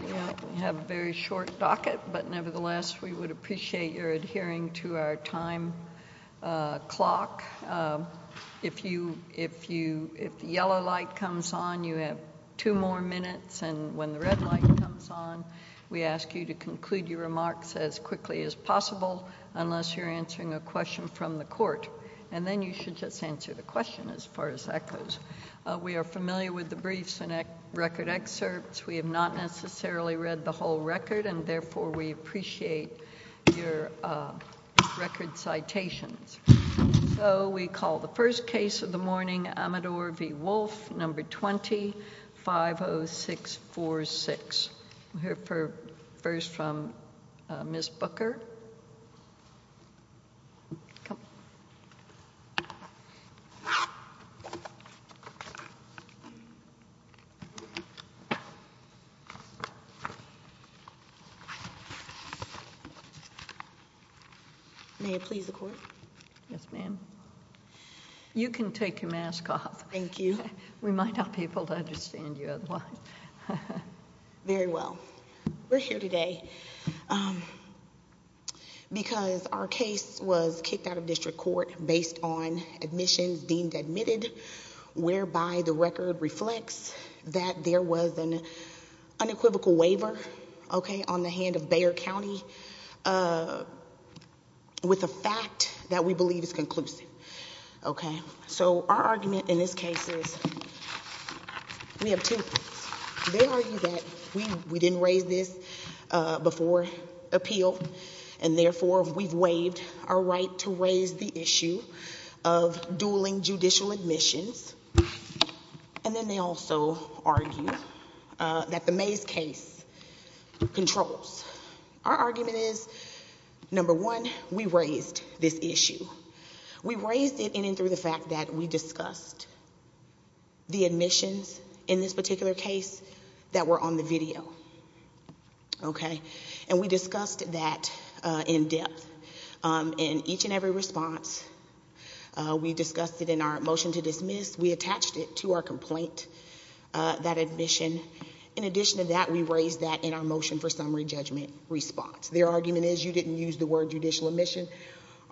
We have a very short docket, but nevertheless, we would appreciate your adhering to our time clock. If the yellow light comes on, you have two more minutes, and when the red light comes on, we ask you to conclude your remarks as quickly as possible, unless you're answering a question from the court. And then you should just answer the question, as far as that goes. We are familiar with the briefs and record excerpts. We have not necessarily read the whole record, and therefore, we appreciate your record citations. We call the first case of the morning, Amador v. Wolfe, number 20-50646. We'll hear first from Ms. Booker. May it please the court? Yes, ma'am. You can take your mask off. Thank you. We might not be able to understand you otherwise. Very well. We're here today because our case was kicked out of district court based on admissions deemed admitted, whereby the record reflects that there was an unequivocal waiver, okay, on the hand of Bayer County, with a fact that we believe is conclusive, okay? So our argument in this case is, we have two things. They argue that we didn't raise this before appeal, and therefore, we've waived our right to raise the issue of dueling judicial admissions. And then they also argue that the Mays case controls. Our argument is, number one, we raised this issue. We raised it in and through the fact that we discussed the admissions in this particular case that were on the video, okay? And we discussed that in depth in each and every response. We discussed it in our motion to dismiss. We attached it to our complaint, that admission. In addition to that, we raised that in our motion for summary judgment response. Their argument is, you didn't use the word judicial admission.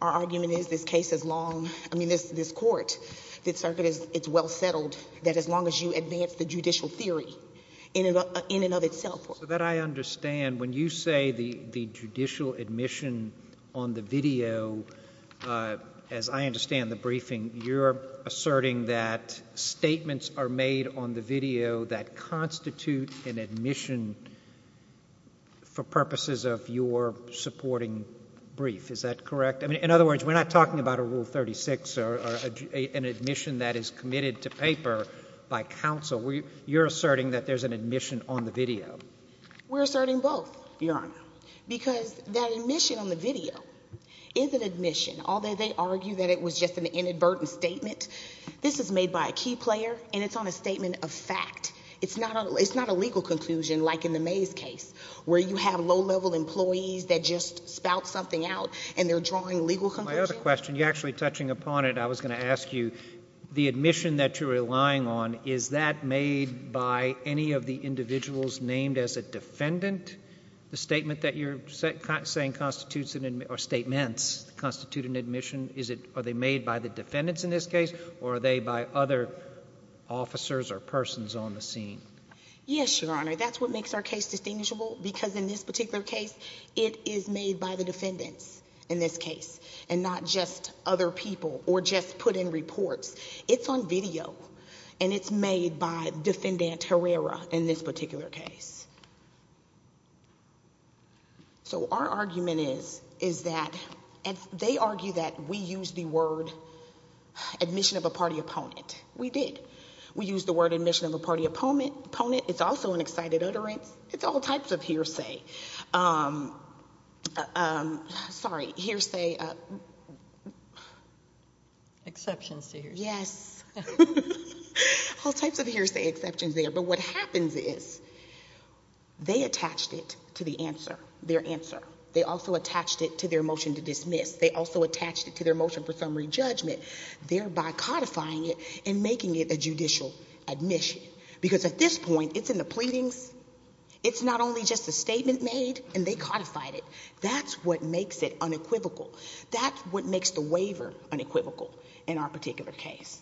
Our argument is, this case is long, I mean, this court, this circuit, it's well settled that as long as you advance the judicial theory in and of itself. So that I understand, when you say the judicial admission on the video, as I understand the briefing, you're asserting that statements are made on the video that constitute an admission for purposes of your supporting brief. Is that correct? I mean, in other words, we're not talking about a Rule 36 or an admission that is committed to paper by counsel. You're asserting that there's an admission on the video. We're asserting both, Your Honor, because that admission on the video is an admission, although they argue that it was just an inadvertent statement. This is made by a key player, and it's on a statement of fact. It's not a legal conclusion like in the Mays case, where you have low-level employees that just spout something out, and they're drawing legal conclusions. My other question, you're actually touching upon it. I was going to ask you, the admission that you're relying on, is that made by any of the individuals named as a defendant? The statement that you're saying constitutes an, or statements, constitute an admission, is it, are they made by the defendants in this case, or are they by other officers or persons on the scene? Yes, Your Honor. That's what makes our case distinguishable, because in this particular case, it is made by the defendants in this case, and not just other people, or just put in reports. It's on video, and it's made by Defendant Herrera in this particular case. So our argument is, is that, and they argue that we used the word admission of a party opponent. We did. We used the word admission of a party opponent. It's also an excited utterance. It's all types of hearsay. Sorry, hearsay. Exceptions to hearsay. Yes. All types of hearsay exceptions there, but what happens is, they attached it to the answer, their answer. They also attached it to their motion to dismiss. They also attached it to their motion for summary judgment, thereby codifying it and making it a judicial admission. Because at this point, it's in the pleadings. It's not only just a statement made, and they codified it. That's what makes it unequivocal. That's what makes the waiver unequivocal in our particular case.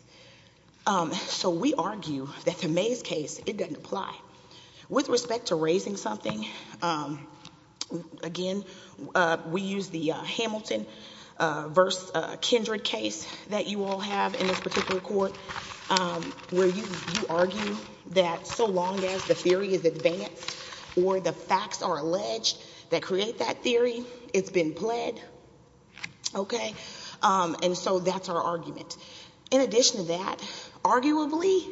So we argue that the Mays case, it doesn't apply. With respect to raising something, again, we use the Hamilton v. Kindred case that you all have in this particular court, where you argue that so long as the theory is advanced or the facts are alleged that create that theory, it's been pled. And so that's our argument. In addition to that, arguably,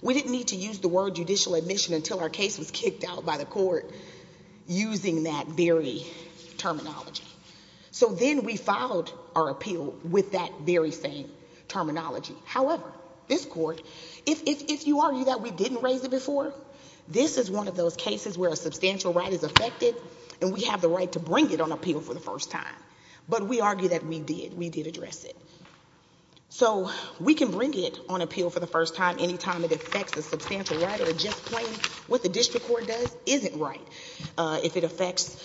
we didn't need to use the word judicial admission until our case was kicked out by the court using that very terminology. So then we filed our appeal with that very same terminology. However, this court, if you argue that we didn't raise it before, this is one of those cases where a substantial right is affected, and we have the right to bring it on appeal for the first time. But we argue that we did. We did address it. So we can bring it on appeal for the first time anytime it affects a substantial right or a just plain. What the district court does isn't right. If it affects,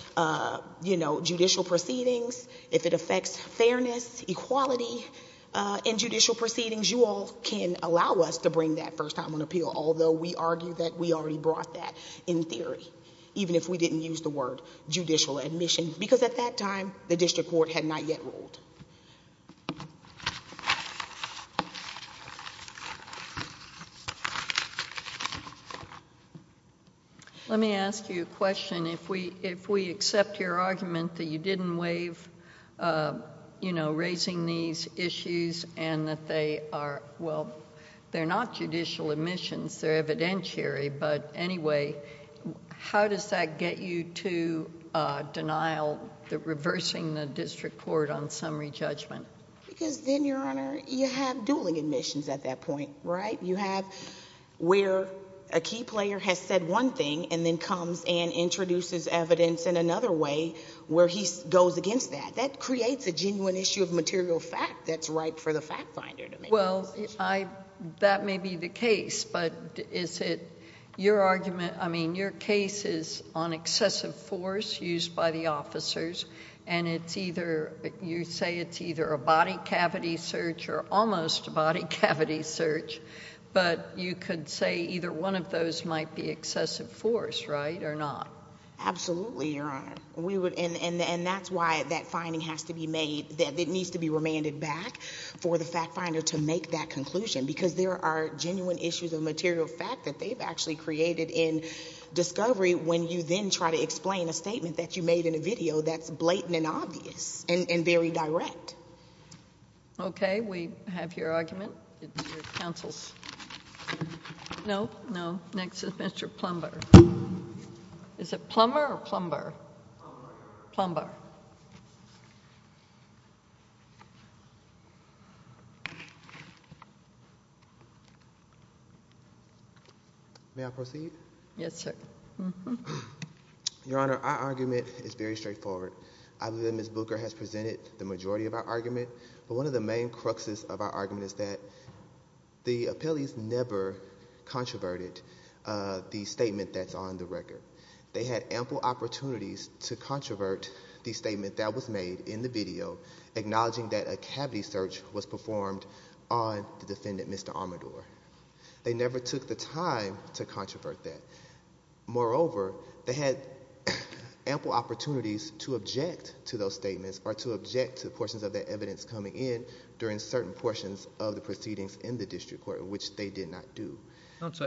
you know, judicial proceedings, if it affects fairness, equality in judicial proceedings, you all can allow us to bring that first time on appeal, although we argue that we already brought that in theory, even if we didn't use the word judicial admission. Because at that time, the district court had not yet ruled. I'm going to ask you a question. If we accept your argument that you didn't waive, you know, raising these issues and that they are... well, they're not judicial admissions, they're evidentiary, but anyway, how does that get you to denial, reversing the district court on summary judgment? Because then, Your Honor, you have dueling admissions at that point, right? You have where a key player has said one thing and then comes and introduces evidence in another way where he goes against that. That creates a genuine issue of material fact that's ripe for the fact finder to make a decision. Well, that may be the case, but is it your argument... I mean, your case is on excessive force used by the officers, and it's either... you say it's either a body cavity search or almost a body cavity search, but you could say either one of those might be excessive force, right, or not? Absolutely, Your Honor. And that's why that finding has to be made... it needs to be remanded back for the fact finder to make that conclusion, because there are genuine issues of material fact that they've actually created in discovery when you then try to explain a statement that you made in a video that's blatant and obvious and very direct. Okay. We have your argument. It's your counsel's... no, no, next is Mr. Plumber. Is it Plumber or Plumber? Plumber. Plumber. May I proceed? Yes, sir. Your Honor, our argument is very straightforward. I believe Ms. Booker has presented the majority of our argument, but one of the main cruxes of our argument is that the appellees never controverted the statement that's on the record. They had ample opportunities to controvert the statement that was made in the video acknowledging that a cavity search was performed on the defendant, Mr. Armador. They never took the time to controvert that. Moreover, they had ample opportunities to object to those statements or to object to certain portions of the proceedings in the district court, which they did not do.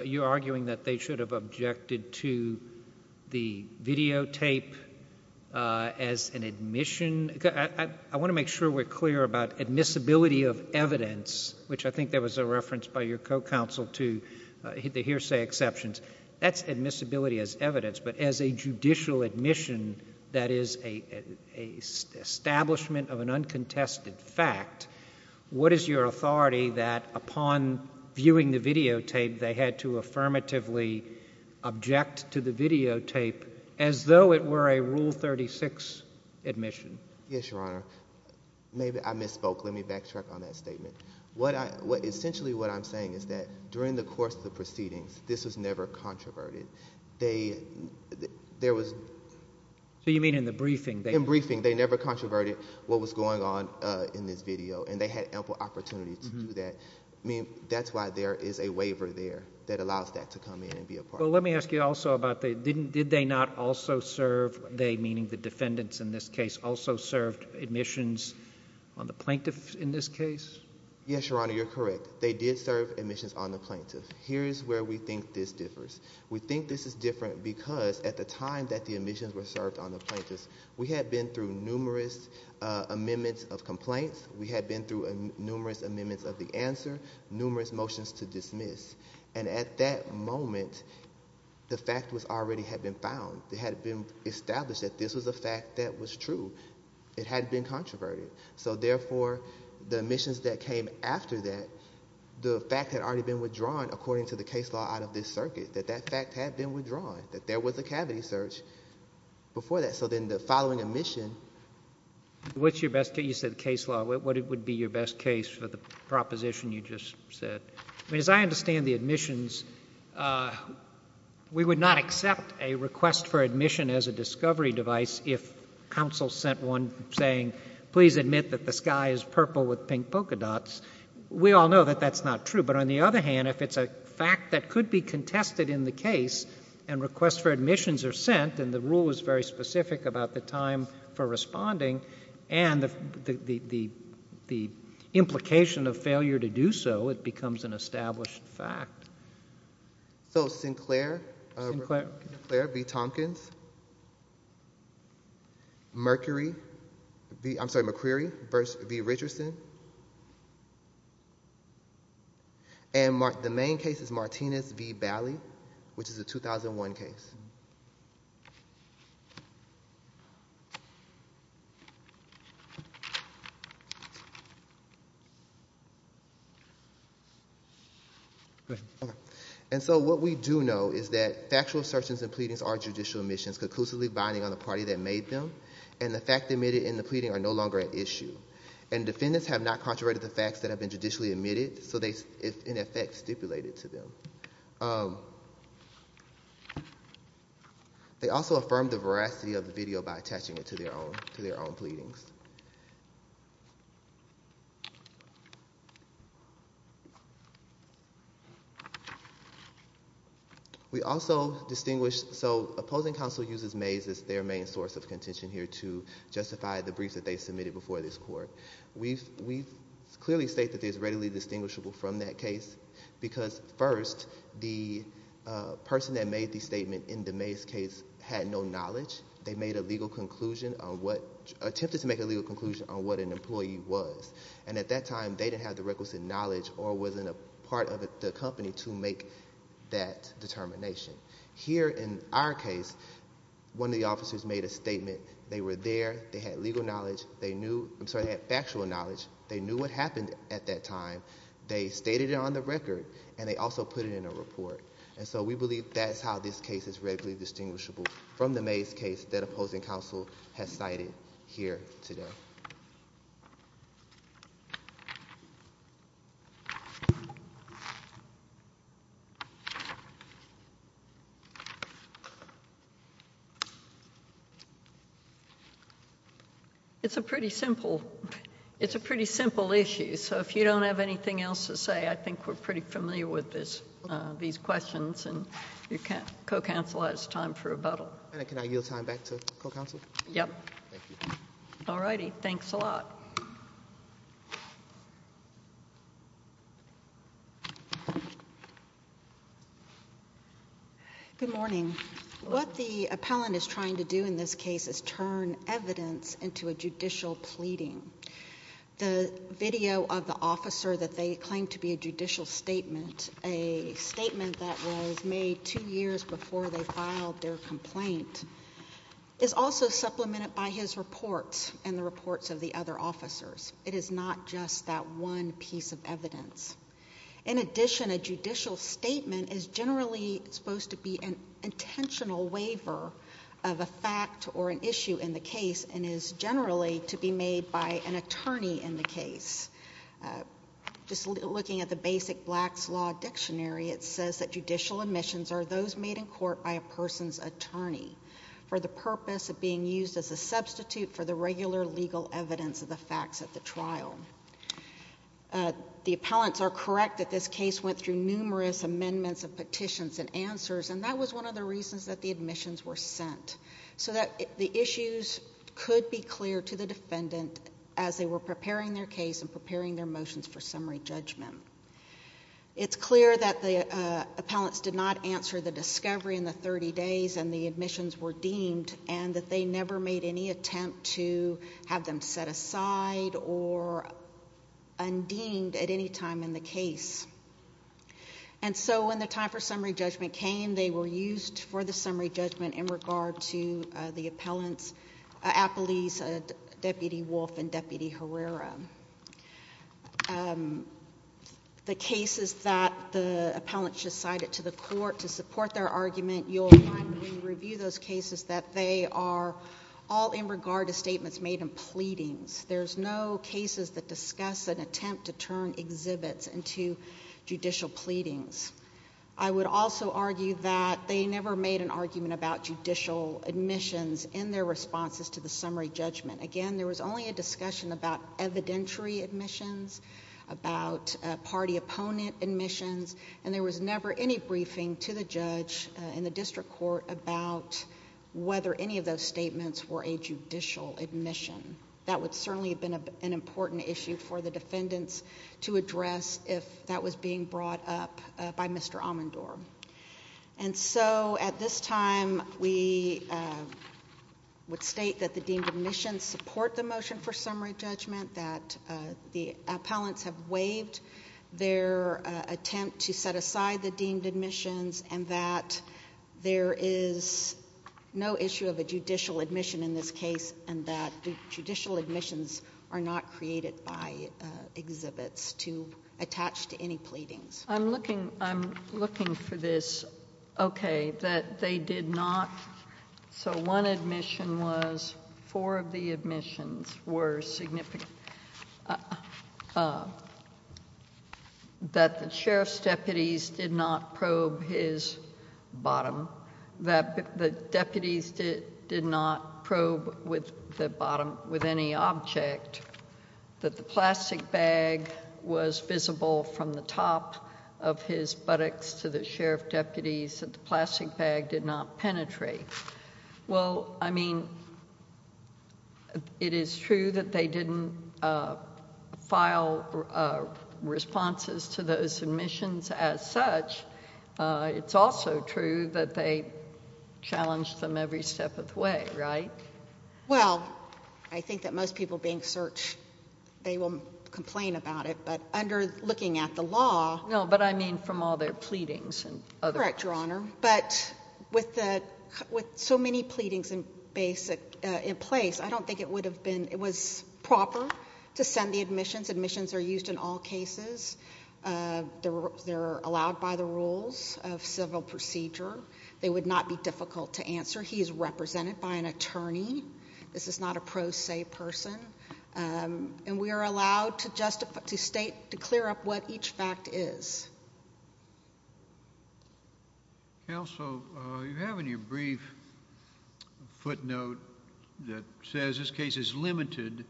You're arguing that they should have objected to the videotape as an admission... I want to make sure we're clear about admissibility of evidence, which I think there was a reference by your co-counsel to the hearsay exceptions. That's admissibility as evidence, but as a judicial admission, that is an establishment of an uncontested fact, what is your authority that upon viewing the videotape, they had to affirmatively object to the videotape as though it were a Rule 36 admission? Yes, Your Honor. I misspoke. Let me backtrack on that statement. Essentially, what I'm saying is that during the course of the proceedings, this was never controverted. There was... You mean in the briefing? In briefing. In the briefing, they never controverted what was going on in this video, and they had ample opportunities to do that. That's why there is a waiver there that allows that to come in and be a part of it. Let me ask you also about... did they not also serve, they meaning the defendants in this case, also served admissions on the plaintiffs in this case? Yes, Your Honor, you're correct. They did serve admissions on the plaintiffs. Here's where we think this differs. We think this is different because at the time that the admissions were served on the plaintiffs, we had been through numerous amendments of complaints. We had been through numerous amendments of the answer, numerous motions to dismiss. At that moment, the fact already had been found. It had been established that this was a fact that was true. It hadn't been controverted. Therefore, the admissions that came after that, the fact had already been withdrawn according to the case law out of this circuit, that that fact had been withdrawn, that there was a cavity search before that. So then the following admission... What's your best case... you said case law. What would be your best case for the proposition you just said? As I understand the admissions, we would not accept a request for admission as a discovery device if counsel sent one saying, please admit that the sky is purple with pink polka dots. We all know that that's not true. But on the other hand, if it's a fact that could be contested in the case and requests for admissions are sent and the rule is very specific about the time for responding and the implication of failure to do so, it becomes an established fact. So Sinclair v. Tompkins, Mercury... I'm sorry, McCreary v. Richardson, and the main case is Martinez v. Bali, which is a 2001 case. And so what we do know is that factual assertions and pleadings are judicial admissions conclusively binding on the party that made them, and the fact admitted in the pleading are no longer at issue. And defendants have not contraverted the facts that have been judicially admitted, so they have not, in effect, stipulated to them. They also affirmed the veracity of the video by attaching it to their own pleadings. So opposing counsel uses Mays as their main source of contention here to justify the briefs that they submitted before this court. We clearly state that it is readily distinguishable from that case because, first, the person that made the statement in the Mays case had no knowledge. They made a legal conclusion on what... attempted to make a legal conclusion on what an employee was. And at that time, they didn't have the requisite knowledge or was in a part of the company to make that determination. Here in our case, one of the officers made a statement. They were there. They had legal knowledge. They knew... I'm sorry, they had factual knowledge. They knew what happened at that time. They stated it on the record, and they also put it in a report. And so we believe that's how this case is readily distinguishable from the Mays case that opposing counsel has cited here today. It's a pretty simple issue, so if you don't have anything else to say, I think we're pretty familiar with these questions, and your co-counsel has time for rebuttal. And can I yield time back to co-counsel? Yep. Thank you. All righty. Thanks a lot. Good morning. What the appellant is trying to do in this case is turn evidence into a judicial pleading. The video of the officer that they claim to be a judicial statement, a statement that of the other officers. It is not just that one piece of evidence. In addition, a judicial statement is generally supposed to be an intentional waiver of a fact or an issue in the case, and is generally to be made by an attorney in the case. Just looking at the basic Blacks Law Dictionary, it says that judicial admissions are those for the regular legal evidence of the facts at the trial. The appellants are correct that this case went through numerous amendments and petitions and answers, and that was one of the reasons that the admissions were sent, so that the issues could be clear to the defendant as they were preparing their case and preparing their motions for summary judgment. It's clear that the appellants did not answer the discovery in the 30 days and the admissions were deemed, and that they never made any attempt to have them set aside or undeemed at any time in the case. And so when the time for summary judgment came, they were used for the summary judgment in regard to the appellants, Appellees Deputy Wolf and Deputy Herrera. The cases that the appellants just cited to the court to support their argument, you'll find when we review those cases that they are all in regard to statements made in pleadings. There's no cases that discuss an attempt to turn exhibits into judicial pleadings. I would also argue that they never made an argument about judicial admissions in their responses to the summary judgment. Again, there was only a discussion about evidentiary admissions, about party opponent admissions, and there was never any briefing to the judge in the district court about whether any of those statements were a judicial admission. That would certainly have been an important issue for the defendants to address if that was being brought up by Mr. Amandor. And so at this time, we would state that the deemed admissions support the motion for summary judgment to set aside the deemed admissions and that there is no issue of a judicial admission in this case and that judicial admissions are not created by exhibits to attach to any pleadings. I'm looking for this, okay, that they did not, so one admission was four of the admissions were significant, that the sheriff's deputies did not probe his bottom, that the deputies did not probe the bottom with any object, that the plastic bag was visible from the top of his buttocks to the sheriff's deputies, that the plastic bag did not penetrate. Well, I mean, it is true that they didn't file responses to those submissions as such. It's also true that they challenged them every step of the way, right? Well, I think that most people being searched, they will complain about it, but under looking at the law No, but I mean from all their pleadings and other Correct, Your Honor, but with so many pleadings in place, I don't think it would have been, it was proper to send the admissions. Admissions are used in all cases. They're allowed by the rules of civil procedure. They would not be difficult to answer. He is represented by an attorney. This is not a pro se person. And we are allowed to state, to clear up what each fact is. So you have in your brief footnote that says this case is limited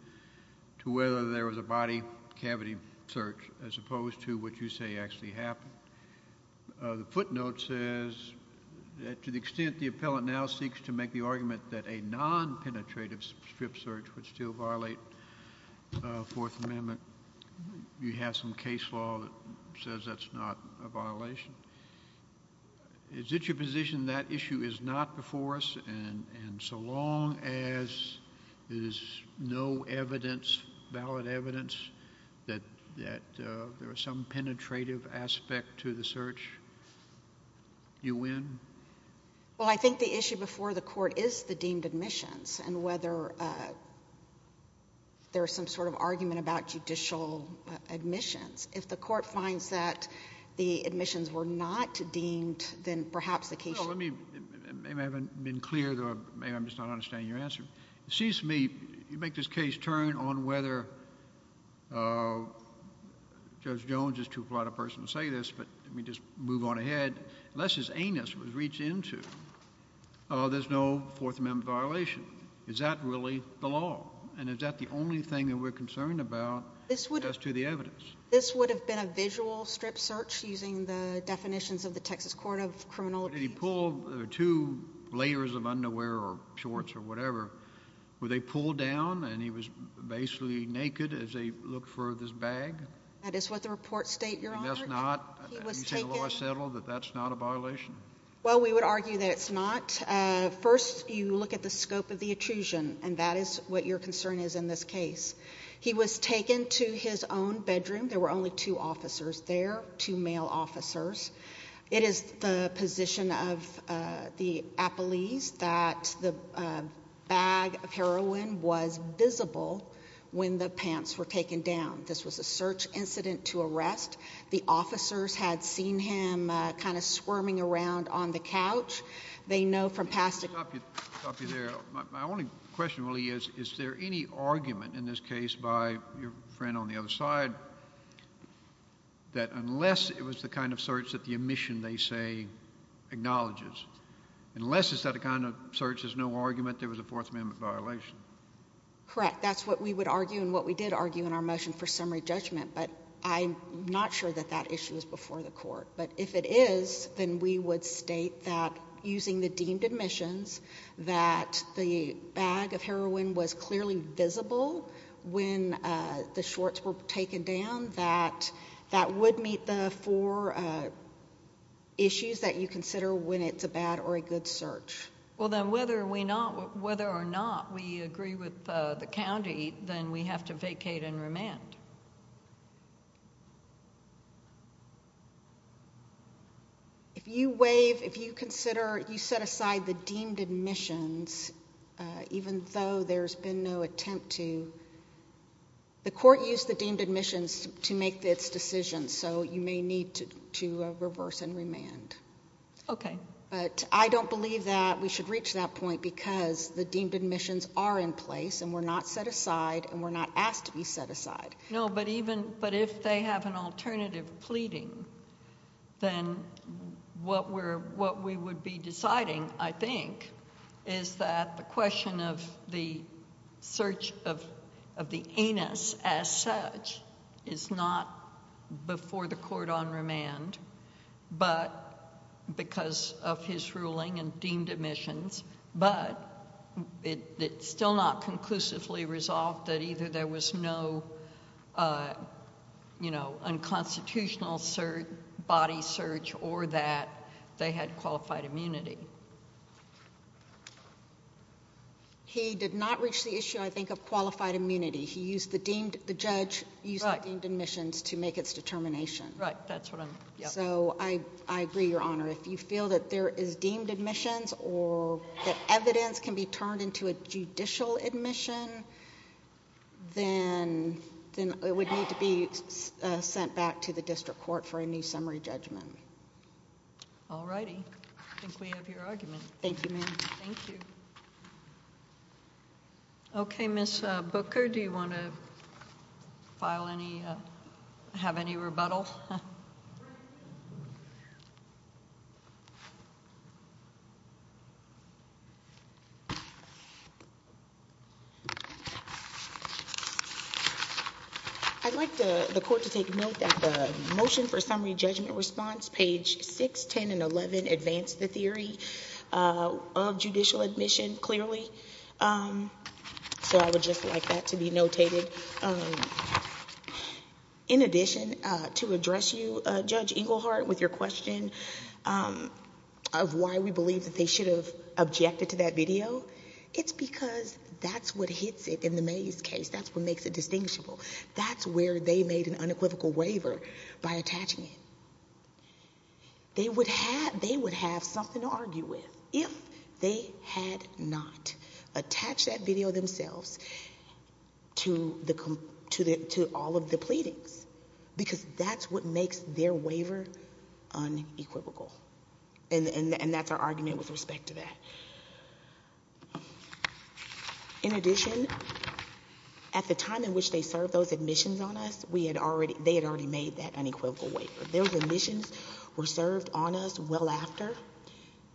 to whether there was a body cavity search as opposed to what you say actually happened. The footnote says that to the extent the appellant now seeks to make the argument that a non penetrative strip search would still violate Fourth Amendment, you have some case law that says that's not a violation. Is it your position that issue is not before us and so long as there is no evidence, valid evidence, that there was some penetrative aspect to the search, you win? Well, I think the issue before the court is the deemed admissions and whether there is some sort of argument about judicial admissions. If the court finds that the admissions were not deemed, then perhaps the case... Well, let me, maybe I haven't been clear, or maybe I'm just not understanding your answer. It seems to me, you make this case turn on whether Judge Jones is too polite a person to say this, but let me just move on ahead. Unless his anus was reached into, there's no Fourth Amendment violation. Is that really the law? And is that the only thing that we're concerned about as to the evidence? This would have been a visual strip search using the definitions of the Texas Court of Criminology. Did he pull two layers of underwear or shorts or whatever? Were they pulled down and he was basically naked as they looked for this bag? That is what the reports state, Your Honor. And that's not... He was taken... Have you seen the law settled that that's not a violation? Well, we would argue that it's not. First, you look at the scope of the intrusion, and that is what your concern is in this case. He was taken to his own bedroom. There were only two officers there, two male officers. It is the position of the appellees that the bag of heroin was visible when the pants were taken down. This was a search incident to arrest. The officers had seen him kind of squirming around on the couch. They know from past... Let me stop you there. My only question really is, is there any argument in this case by your friend on the other side that unless it was the kind of search that the omission, they say, acknowledges, unless it's that kind of search, there's no argument there was a Fourth Amendment violation? Correct. That's what we would argue and what we did argue in our motion for summary judgment, but I'm not sure that that issue is before the court. But if it is, then we would state that using the deemed omissions, that the bag of heroin was clearly visible when the shorts were taken down, that that would meet the four issues that you consider when it's a bad or a good search. Well, then, whether or not we agree with the county, then we have to vacate and remand. If you consider you set aside the deemed omissions, even though there's been no attempt to, the court used the deemed omissions to make its decision, so you may need to reverse and remand. Okay. But I don't believe that we should reach that point because the deemed omissions are in place and were not set aside and were not asked to be set aside. No, but if they have an alternative pleading, then what we would be deciding, I think, is that the question of the search of the anus as such is not before the court on remand, but because of his ruling and deemed omissions, but it's still not conclusively resolved that either there was no unconstitutional body search or that they had qualified immunity. He did not reach the issue, I think, of qualified immunity. The judge used the deemed omissions to make its determination. Right. That's what I'm... So I agree, Your Honor. If you feel that there is deemed omissions or that evidence can be turned into a judicial omission, then it would need to be sent back to the district court for a new summary judgment. All righty. I think we have your argument. Thank you, ma'am. Thank you. Okay, Ms. Booker, do you want to file any... have any rebuttal? I'd like the court to take note that the motion for summary judgment response, page 6, 10, and 11 advance the theory of judicial admission clearly. So I would just like that to be notated. In addition, to address you, Judge Englehart, with your question of why we believe that they should have objected to that video, it's because that's what hits it in the Mays case. That's what makes it distinguishable. That's where they made an unequivocal waiver by attaching it. They would have something to argue with if they had not attached that video themselves to all of the pleadings, because that's what makes their waiver unequivocal, and that's our argument with respect to that. In addition, at the time in which they served those admissions on us, we had already... they had already made that unequivocal waiver. Those admissions were served on us well after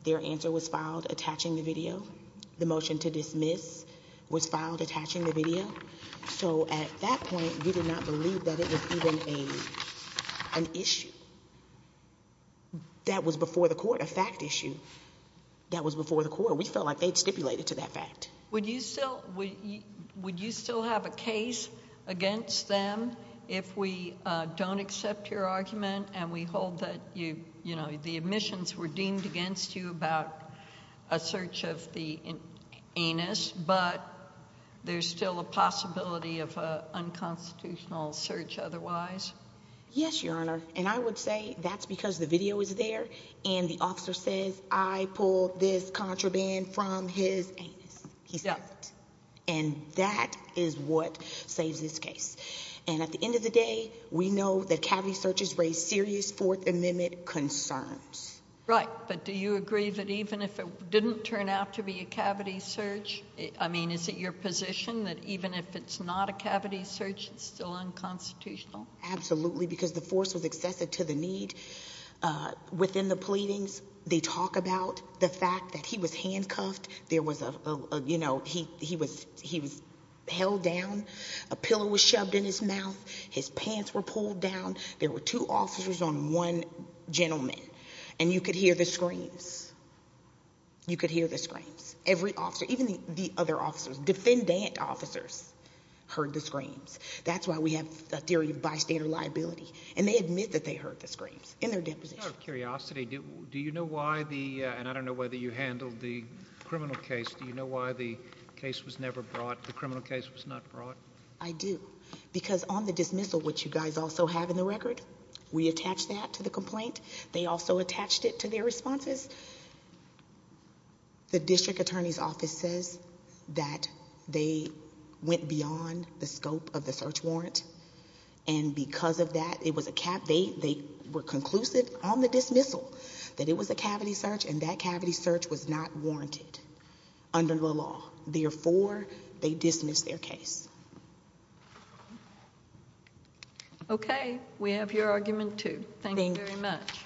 their answer was filed attaching the video. The motion to dismiss was filed attaching the video. So at that point, we did not believe that it was even an issue. That was before the court, a fact issue. That was before the court. We felt like they had stipulated to that fact. Would you still have a case against them if we don't accept your argument and we hold that the admissions were deemed against you about a search of the anus, but there's still a possibility of an unconstitutional search otherwise? Yes, Your Honor. I would say that's because the video is there and the officer says, I pulled this contraband from his anus. He says it. And that is what saves this case. And at the end of the day, we know that cavity searches raise serious Fourth Amendment concerns. Right, but do you agree that even if it didn't turn out to be a cavity search, I mean, is it your position that even if it's not a cavity search, it's still unconstitutional? Absolutely, because the force was excessive to the need. Within the pleadings, they talk about the fact that he was handcuffed. There was a, you know, he was held down. A pillow was shoved in his mouth. His pants were pulled down. There were two officers on one gentleman, and you could hear the screams. You could hear the screams. Every officer, even the other officers, defendant officers heard the screams. That's why we have a theory of bystander liability. And they admit that they heard the screams in their deposition. Out of curiosity, do you know why the, and I don't know whether you handled the criminal case, do you know why the case was never brought, the criminal case was not brought? I do. Because on the dismissal, which you guys also have in the record, we attached that to the complaint. They also attached it to their responses. The district attorney's office says that they went beyond the scope of the search warrant, and because of that, it was a cap. They were conclusive on the dismissal that it was a cavity search, and that cavity search was not warranted under the law. Therefore, they dismissed their case. Okay. We have your argument, too. Thank you very much. Thank you.